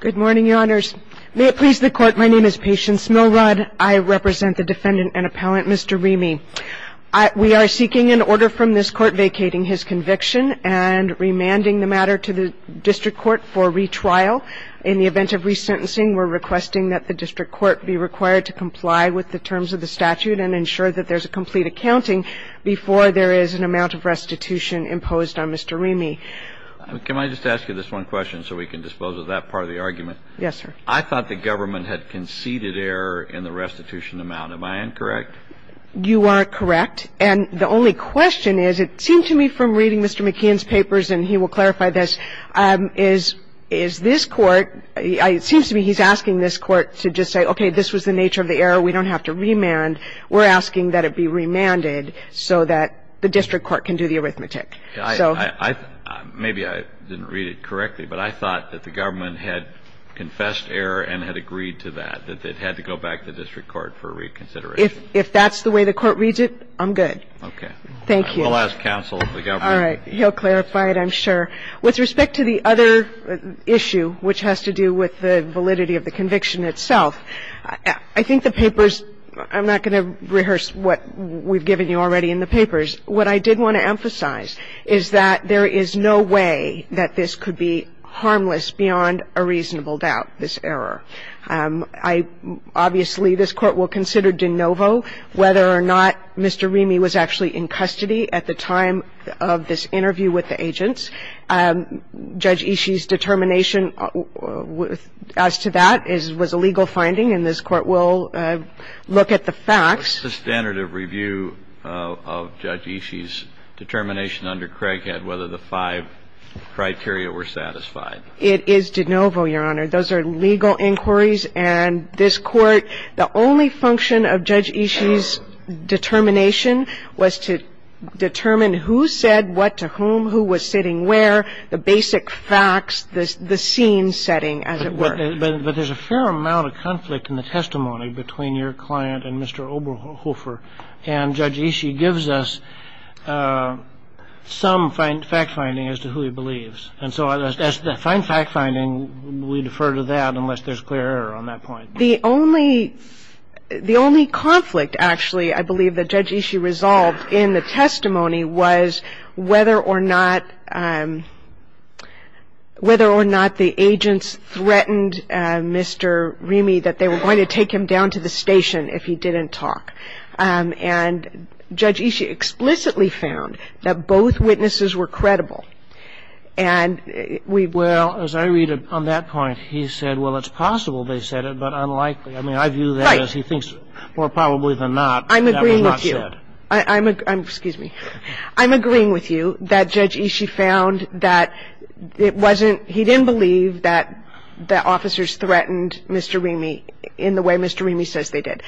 Good morning, Your Honors. May it please the Court, my name is Patience Milrod. I represent the defendant and appellant, Mr. Remy. We are seeking an order from this Court vacating his conviction and remanding the matter to the District Court for retrial. In the event of resentencing, we're requesting that the District Court be required to comply with the terms of the statute and ensure that there's a complete accounting before there is an amount of restitution imposed on Mr. Remy. Can I just ask you this one question so we can dispose of that part of the argument? Yes, sir. I thought the government had conceded error in the restitution amount. Am I incorrect? You are correct. And the only question is, it seemed to me from reading Mr. McKeon's papers, and he will clarify this, is this Court, it seems to me he's asking this Court to just say, okay, this was the nature of the error, we don't have to remand. We're asking that it be remanded so that the District Court can do the arithmetic. Maybe I didn't read it correctly, but I thought that the government had confessed error and had agreed to that, that it had to go back to the District Court for reconsideration. If that's the way the Court reads it, I'm good. Okay. Thank you. I will ask counsel of the government. All right. He'll clarify it, I'm sure. With respect to the other issue, which has to do with the validity of the conviction itself, I think the papers, I'm not going to rehearse what we've given you already in the papers. What I did want to emphasize is that there is no way that this could be harmless beyond a reasonable doubt, this error. Obviously, this Court will consider de novo whether or not Mr. Rimi was actually in custody at the time of this interview with the agents. Judge Ishii's determination as to that was a legal finding, and this Court will look at the facts. The standard of review of Judge Ishii's determination under Craighead, whether the five criteria were satisfied. It is de novo, Your Honor. Those are legal inquiries, and this Court, the only function of Judge Ishii's determination was to determine who said what to whom, who was sitting where, the basic facts, the scene setting, as it were. But there's a fair amount of conflict in the testimony between your client and Mr. Oberhofer, and Judge Ishii gives us some fact-finding as to who he believes. And so as to the fine fact-finding, we defer to that unless there's clear error on that point. The only conflict, actually, I believe that Judge Ishii resolved in the testimony, was whether or not the agents threatened Mr. Rimi that they were going to take him down to the station if he didn't talk. And Judge Ishii explicitly found that both witnesses were credible. And we will ---- Well, as I read on that point, he said, well, it's possible they said it, but unlikely. I mean, I view that as he thinks more probably than not that were not said. Right. I'm agreeing with you. I'm ---- Excuse me. I'm agreeing with you that Judge Ishii found that it wasn't ---- he didn't believe that the officers threatened Mr. Rimi in the way Mr. Rimi says they did.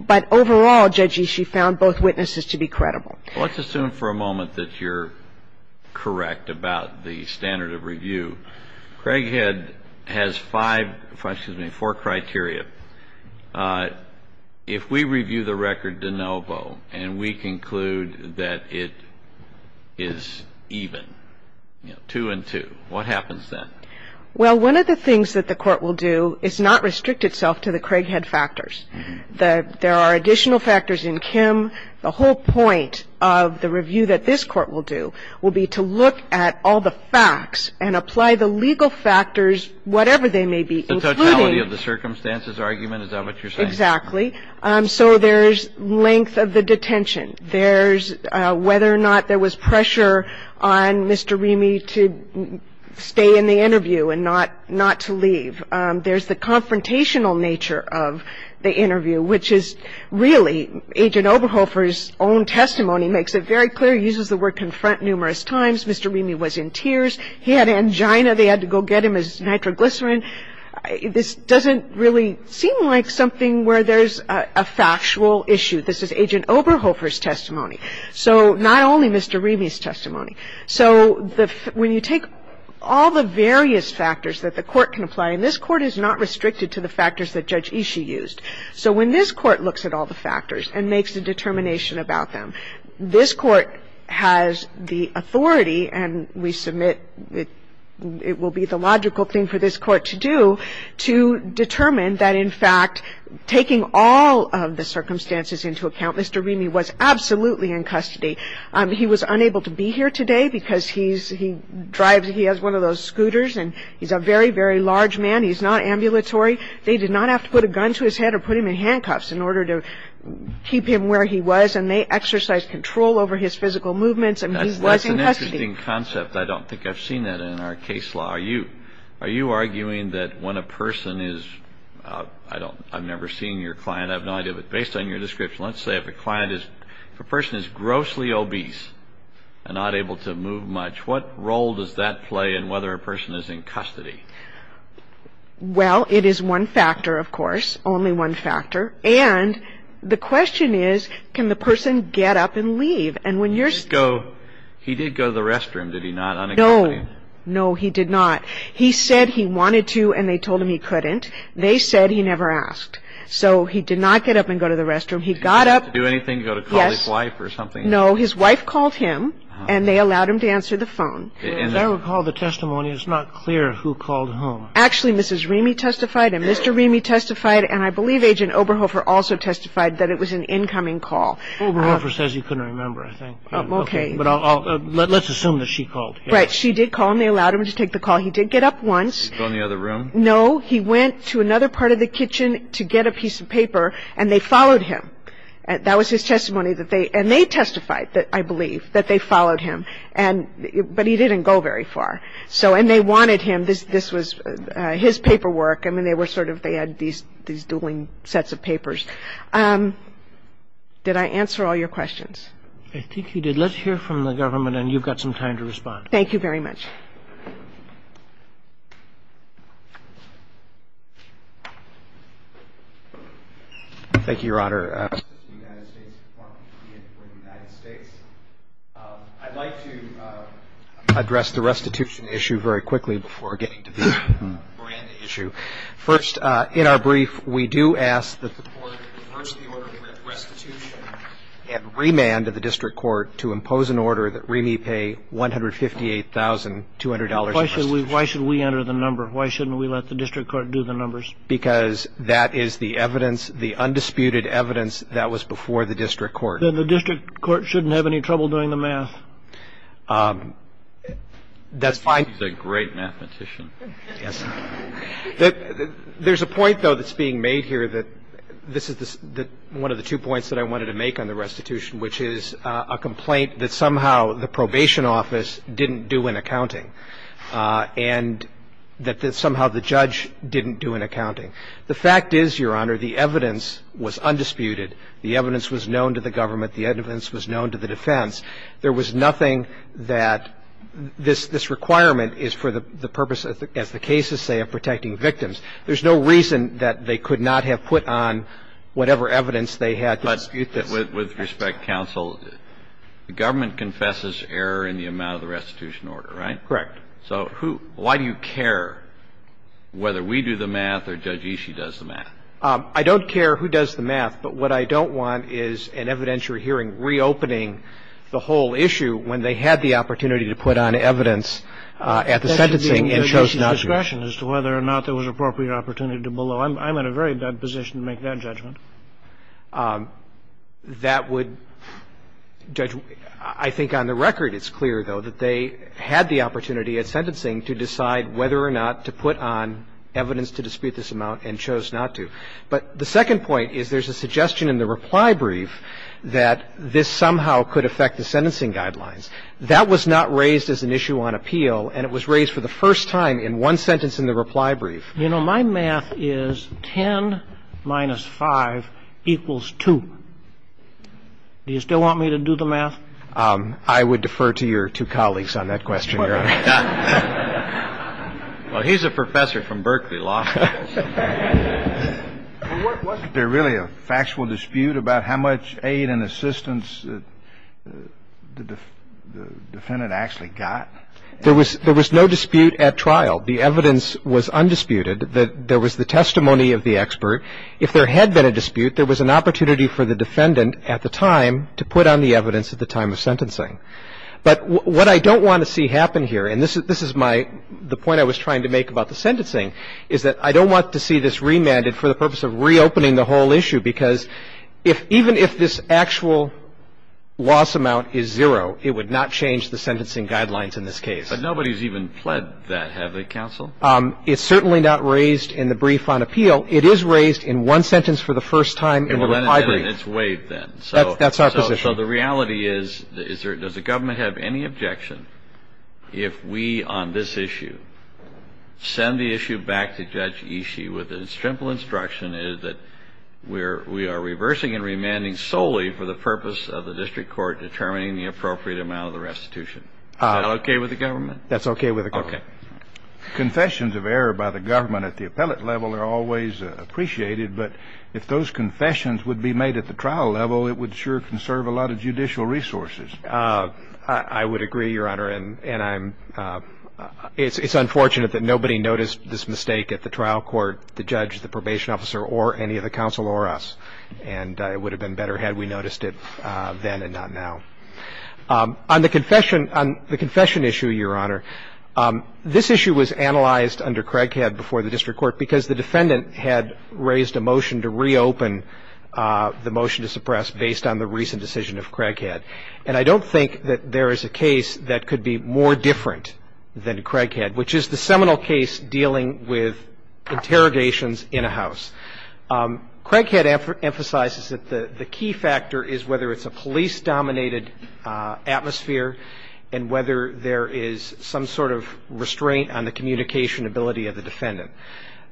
But overall, Judge Ishii found both witnesses to be credible. Well, let's assume for a moment that you're correct about the standard of review. Craighead has five ---- excuse me, four criteria. If we review the record de novo and we conclude that it is even, two and two, what happens then? Well, one of the things that the Court will do is not restrict itself to the Craighead factors. There are additional factors in Kim. The whole point of the review that this Court will do will be to look at all the facts and apply the legal factors, whatever they may be, including ---- The totality of the circumstances argument? Is that what you're saying? Exactly. So there's length of the detention. There's whether or not there was pressure on Mr. Rimi to stay in the interview and not to leave. There's the confrontational nature of the interview, which is really Agent Oberhofer's own testimony makes it very clear. He uses the word confront numerous times. Mr. Rimi was in tears. He had angina. They had to go get him his nitroglycerin. This doesn't really seem like something where there's a factual issue. This is Agent Oberhofer's testimony. So not only Mr. Rimi's testimony. So when you take all the various factors that the Court can apply, and this Court is not restricted to the factors that Judge Ishii used. So when this Court looks at all the factors and makes a determination about them, this Court has the authority, and we submit it will be the logical thing for this Court to do, to determine that, in fact, taking all of the circumstances into account, Mr. Rimi was absolutely in custody. He was unable to be here today because he has one of those scooters, and he's a very, very large man. He's not ambulatory. They did not have to put a gun to his head or put him in handcuffs in order to keep him where he was, and they exercised control over his physical movements, and he was in custody. That's an interesting concept. I don't think I've seen that in our case law. Are you arguing that when a person is – I've never seen your client. I have no idea, but based on your description, let's say if a person is grossly obese and not able to move much, what role does that play in whether a person is in custody? Well, it is one factor, of course, only one factor, and the question is can the person get up and leave, and when you're – He did go to the restroom, did he not, unaccompanied? No, no, he did not. He said he wanted to, and they told him he couldn't. They said he never asked, so he did not get up and go to the restroom. He got up – Did he have to do anything, go to call his wife or something? No, his wife called him, and they allowed him to answer the phone. As I recall the testimony, it's not clear who called whom. Actually, Mrs. Remy testified, and Mr. Remy testified, and I believe Agent Oberhofer also testified that it was an incoming call. Oberhofer says he couldn't remember, I think. Okay. But I'll – let's assume that she called him. Right, she did call him. They allowed him to take the call. He did get up once. Did he go in the other room? No, he went to another part of the kitchen to get a piece of paper, and they followed him. That was his testimony that they – and they testified, I believe, that they followed him. And – but he didn't go very far. So – and they wanted him. This was his paperwork. I mean, they were sort of – they had these dueling sets of papers. Did I answer all your questions? I think you did. Let's hear from the government, and you've got some time to respond. Thank you very much. Thank you, Your Honor. Justice of the United States, Mark McKeon for the United States. I'd like to address the restitution issue very quickly before getting to the Miranda issue. First, in our brief, we do ask that the court reverse the order of restitution and remand to the district court to impose an order that reme pay $158,000 Why should we enter the number? Why shouldn't we let the district court do the numbers? Because that is the evidence, the undisputed evidence that was before the district court. Then the district court shouldn't have any trouble doing the math. That's fine. He's a great mathematician. Yes. There's a point, though, that's being made here that – this is one of the two points that I wanted to make on the restitution, which is a complaint that somehow the probation office didn't do in accounting and that somehow the judge didn't do in accounting. The fact is, Your Honor, the evidence was undisputed. The evidence was known to the government. The evidence was known to the defense. There was nothing that this requirement is for the purpose, as the cases say, of protecting victims. There's no reason that they could not have put on whatever evidence they had to dispute this. With respect, counsel, the government confesses error in the amount of the restitution order, right? Correct. So who – why do you care whether we do the math or Judge Ishii does the math? I don't care who does the math, but what I don't want is an evidentiary hearing reopening the whole issue when they had the opportunity to put on evidence at the sentencing and chose not to. That should be at Judge Ishii's discretion as to whether or not there was appropriate opportunity to below. I'm in a very bad position to make that judgment. That would – Judge, I think on the record it's clear, though, that they had the opportunity at sentencing to decide whether or not to put on evidence to dispute this amount and chose not to. But the second point is there's a suggestion in the reply brief that this somehow could affect the sentencing guidelines. That was not raised as an issue on appeal, and it was raised for the first time in one sentence in the reply brief. You know, my math is 10 minus 5 equals 2. Do you still want me to do the math? I would defer to your two colleagues on that question, Your Honor. Well, he's a professor from Berkeley Law. Wasn't there really a factual dispute about how much aid and assistance the defendant actually got? There was no dispute at trial. The evidence was undisputed that there was the testimony of the expert. If there had been a dispute, there was an opportunity for the defendant at the time to put on the evidence at the time of sentencing. But what I don't want to see happen here, and this is my – the point I was trying to make about the sentencing, is that I don't want to see this remanded for the purpose of reopening the whole issue, because even if this actual loss amount is zero, it would not change the sentencing guidelines in this case. But nobody's even pled that, have they, counsel? It's certainly not raised in the brief on appeal. It is raised in one sentence for the first time in the reply brief. Well, then it's waived then. That's our position. So the reality is, does the government have any objection if we on this issue send the issue back to Judge Ishii with the simple instruction that we are reversing and remanding solely for the purpose of the district court determining the appropriate amount of the restitution? Is that okay with the government? That's okay with the government. Okay. Confessions of error by the government at the appellate level are always appreciated, but if those confessions would be made at the trial level, it would sure conserve a lot of judicial resources. I would agree, Your Honor, and I'm – it's unfortunate that nobody noticed this mistake at the trial court, the judge, the probation officer, or any of the counsel or us. And it would have been better had we noticed it then and not now. On the confession – on the confession issue, Your Honor, this issue was analyzed under Craighead before the district court because the defendant had raised a motion to reopen the motion to suppress based on the recent decision of Craighead. And I don't think that there is a case that could be more different than Craighead, which is the seminal case dealing with interrogations in a house. Craighead emphasizes that the key factor is whether it's a police-dominated atmosphere and whether there is some sort of restraint on the communication ability of the defendant.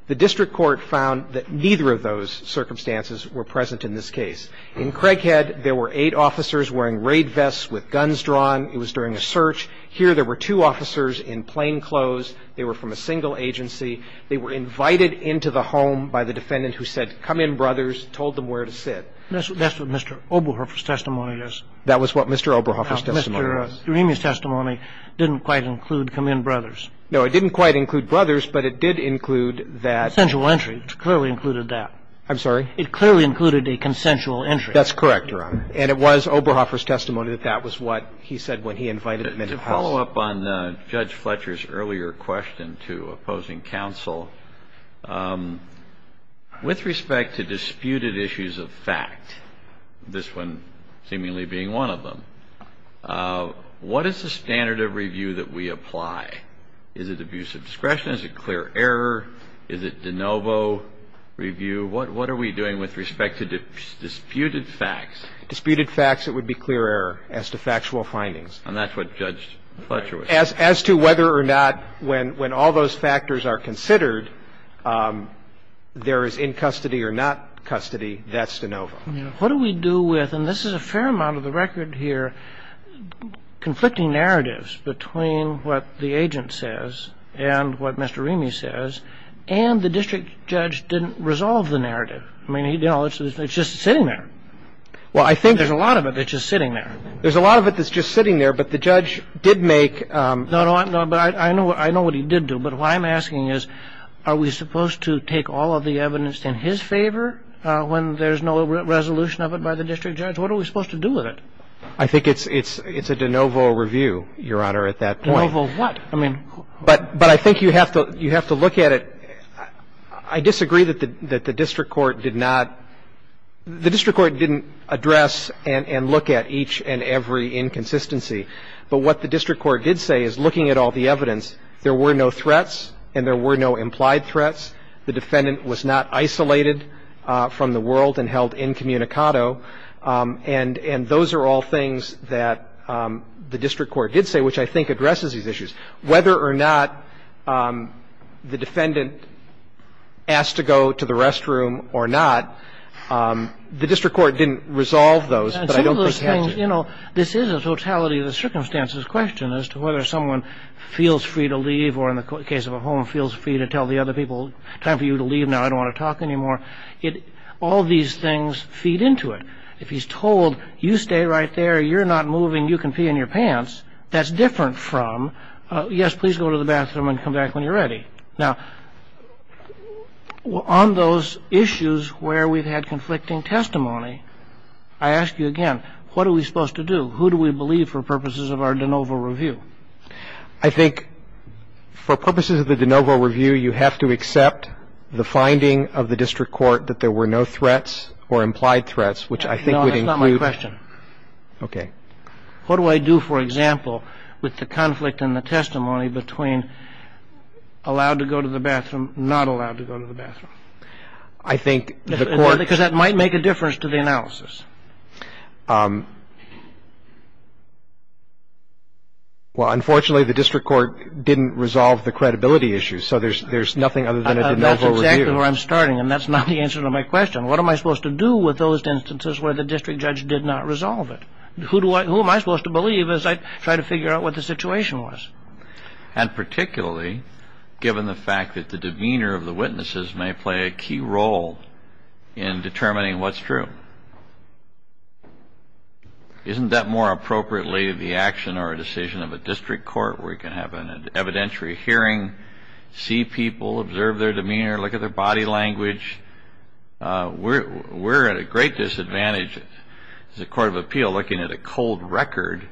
The district court found that neither of those circumstances were present in this case. In Craighead, there were eight officers wearing raid vests with guns drawn. It was during a search. Here there were two officers in plainclothes. They were from a single agency. They were invited into the home by the defendant who said, come in, brothers, told them where to sit. That's what Mr. Oberhofer's testimony is. That was what Mr. Oberhofer's testimony was. Now, Mr. Doremi's testimony didn't quite include come in, brothers. No, it didn't quite include brothers, but it did include that – Consensual entry. It clearly included that. I'm sorry? It clearly included a consensual entry. That's correct, Your Honor. And it was Oberhofer's testimony that that was what he said when he invited them into the house. To follow up on Judge Fletcher's earlier question to opposing counsel, with respect to disputed issues of fact, this one seemingly being one of them, what is the standard of review that we apply? Is it abuse of discretion? Is it clear error? Is it de novo review? What are we doing with respect to disputed facts? Disputed facts, it would be clear error as to factual findings. And that's what Judge Fletcher was saying. As to whether or not, when all those factors are considered, there is in custody or not custody, that's de novo. What do we do with, and this is a fair amount of the record here, conflicting narratives between what the agent says and what Mr. Doremi says, and the district judge didn't resolve the narrative. I mean, you know, it's just sitting there. Well, I think there's a lot of it that's just sitting there. There's a lot of it that's just sitting there, but the judge did make. No, no. But I know what he did do. But what I'm asking is, are we supposed to take all of the evidence in his favor when there's no resolution of it by the district judge? What are we supposed to do with it? I think it's a de novo review, Your Honor, at that point. De novo what? I mean. But I think you have to look at it. I disagree that the district court did not, the district court didn't address and look at each and every inconsistency. But what the district court did say is, looking at all the evidence, there were no threats and there were no implied threats. The defendant was not isolated from the world and held incommunicado. And those are all things that the district court did say, which I think addresses these issues. Whether or not the defendant asked to go to the restroom or not, the district court didn't resolve those. And some of those things, you know, this is a totality of the circumstances question as to whether someone feels free to leave or, in the case of a home, feels free to tell the other people, time for you to leave now. I don't want to talk anymore. All these things feed into it. If he's told, you stay right there, you're not moving, you can pee in your pants, that's different from, yes, please go to the bathroom and come back when you're Now, on those issues where we've had conflicting testimony, I ask you again, what are we supposed to do? Who do we believe for purposes of our de novo review? I think for purposes of the de novo review, you have to accept the finding of the district court that there were no threats or implied threats, which I think would include No, that's not my question. Okay. What do I do, for example, with the conflict in the testimony between allowing to go to the bathroom, not allowed to go to the bathroom? I think the court Because that might make a difference to the analysis. Well, unfortunately, the district court didn't resolve the credibility issue, so there's nothing other than a de novo review. That's exactly where I'm starting, and that's not the answer to my question. What am I supposed to do with those instances where the district judge did not resolve it? Who am I supposed to believe as I try to figure out what the situation was? And particularly, given the fact that the demeanor of the witnesses may play a key role in determining what's true. Isn't that more appropriately the action or a decision of a district court where you can have an evidentiary hearing, see people, observe their demeanor, look at their body language? We're at a great disadvantage as a court of appeal looking at a cold record.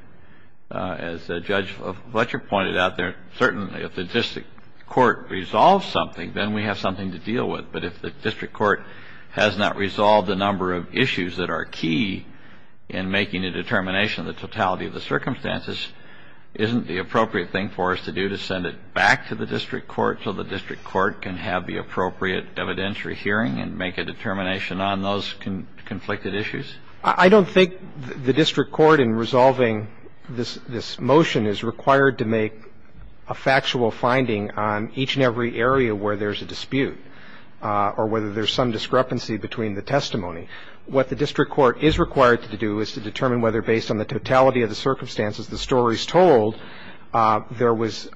As Judge Fletcher pointed out there, certainly if the district court resolves something, then we have something to deal with. But if the district court has not resolved a number of issues that are key in making a determination of the totality of the circumstances, isn't the appropriate thing for us to do to send it back to the district court so the district court can have the appropriate evidentiary hearing and make a determination on those conflicted issues? I don't think the district court in resolving this motion is required to make a factual finding on each and every area where there's a dispute or whether there's some discrepancy between the testimony. What the district court is required to do is to determine whether based on the totality of the circumstances, the stories told, there was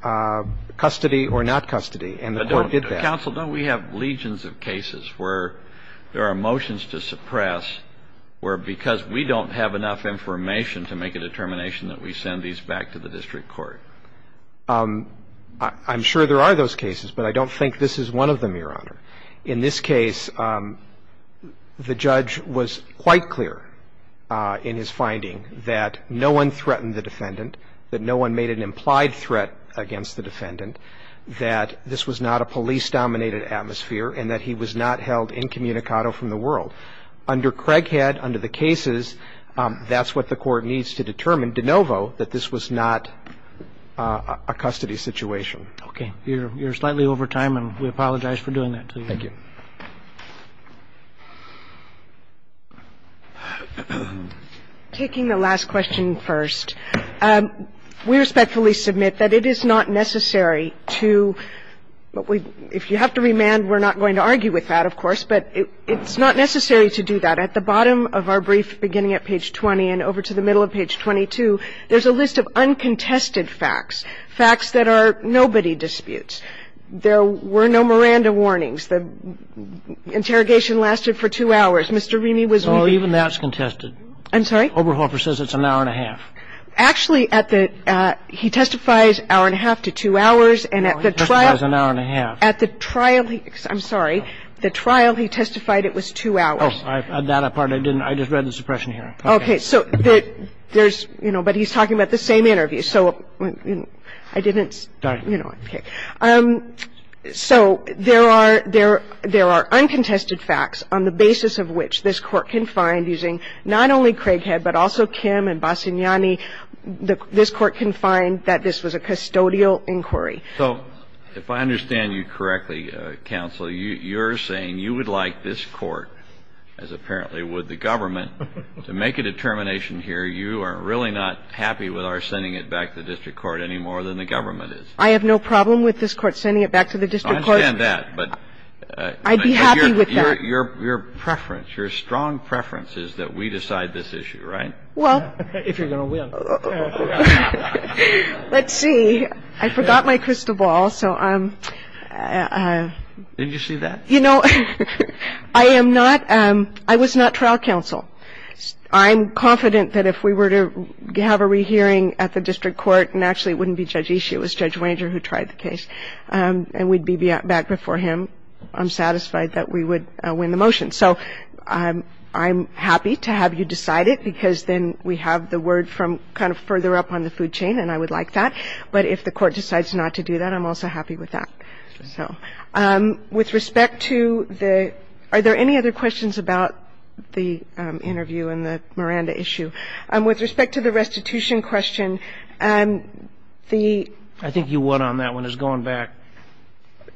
custody or not custody. And the court did that. Counsel, don't we have legions of cases where there are motions to suppress where because we don't have enough information to make a determination that we send these back to the district court? I'm sure there are those cases, but I don't think this is one of them, Your Honor. In this case, the judge was quite clear in his finding that no one threatened the defendant, that no one made an implied threat against the defendant, that this was not a police-dominated atmosphere, and that he was not held incommunicado from the world. Under Craighead, under the cases, that's what the court needs to determine, de novo, that this was not a custody situation. Okay. You're slightly over time, and we apologize for doing that to you. Thank you. Taking the last question first, we respectfully submit that it is not necessary to – if you have to remand, we're not going to argue with that, of course, but it's not necessary to do that. At the bottom of our brief, beginning at page 20 and over to the middle of page 22, there's a list of uncontested facts, facts that are nobody disputes. There were no Miranda warnings. The interrogation lasted for two hours. Mr. Remy was – No, even that's contested. I'm sorry? Oberhofer says it's an hour and a half. Actually, at the – he testifies hour and a half to two hours, and at the trial – No, he testifies an hour and a half. At the trial, he – I'm sorry. The trial, he testified it was two hours. Oh, on that part, I didn't – I just read the suppression hearing. Okay. So there's – you know, but he's talking about the same interview. So I didn't – you know. Okay. So there are – there are uncontested facts on the basis of which this Court can find using not only Craighead but also Kim and Bassagnani. This Court can find that this was a custodial inquiry. So if I understand you correctly, Counsel, you're saying you would like this Court, as apparently would the government, to make a determination here you are really not happy with our sending it back to the district court any more than the government is. I have no problem with this Court sending it back to the district court. I understand that, but – I'd be happy with that. Your preference, your strong preference is that we decide this issue, right? Well – If you're going to win. Let's see. I forgot my crystal ball. So I'm – Did you see that? You know, I am not – I was not trial counsel. I'm confident that if we were to have a rehearing at the district court, and actually it wouldn't be Judge Ishii, it was Judge Wanger who tried the case, and we'd be back before him, I'm satisfied that we would win the motion. So I'm happy to have you decide it, because then we have the word from kind of further up on the food chain, and I would like that. But if the Court decides not to do that, I'm also happy with that. So with respect to the – are there any other questions about the interview and the Miranda issue? With respect to the restitution question, the – I think you won on that one. It's going back.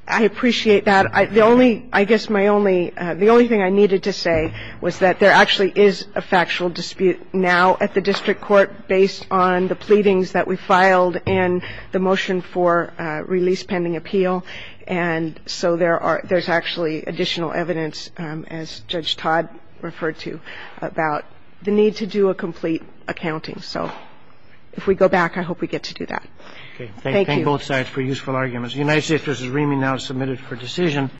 I appreciate that. The only – I guess my only – the only thing I needed to say was that there actually is a factual dispute now at the district court based on the pleadings that we filed and the motion for release pending appeal. And so there are – there's actually additional evidence, as Judge Todd referred to, about the need to do a complete accounting. So if we go back, I hope we get to do that. Thank you. Thank you. Thank you both sides for useful arguments. The United States versus RIMI now is submitted for decision.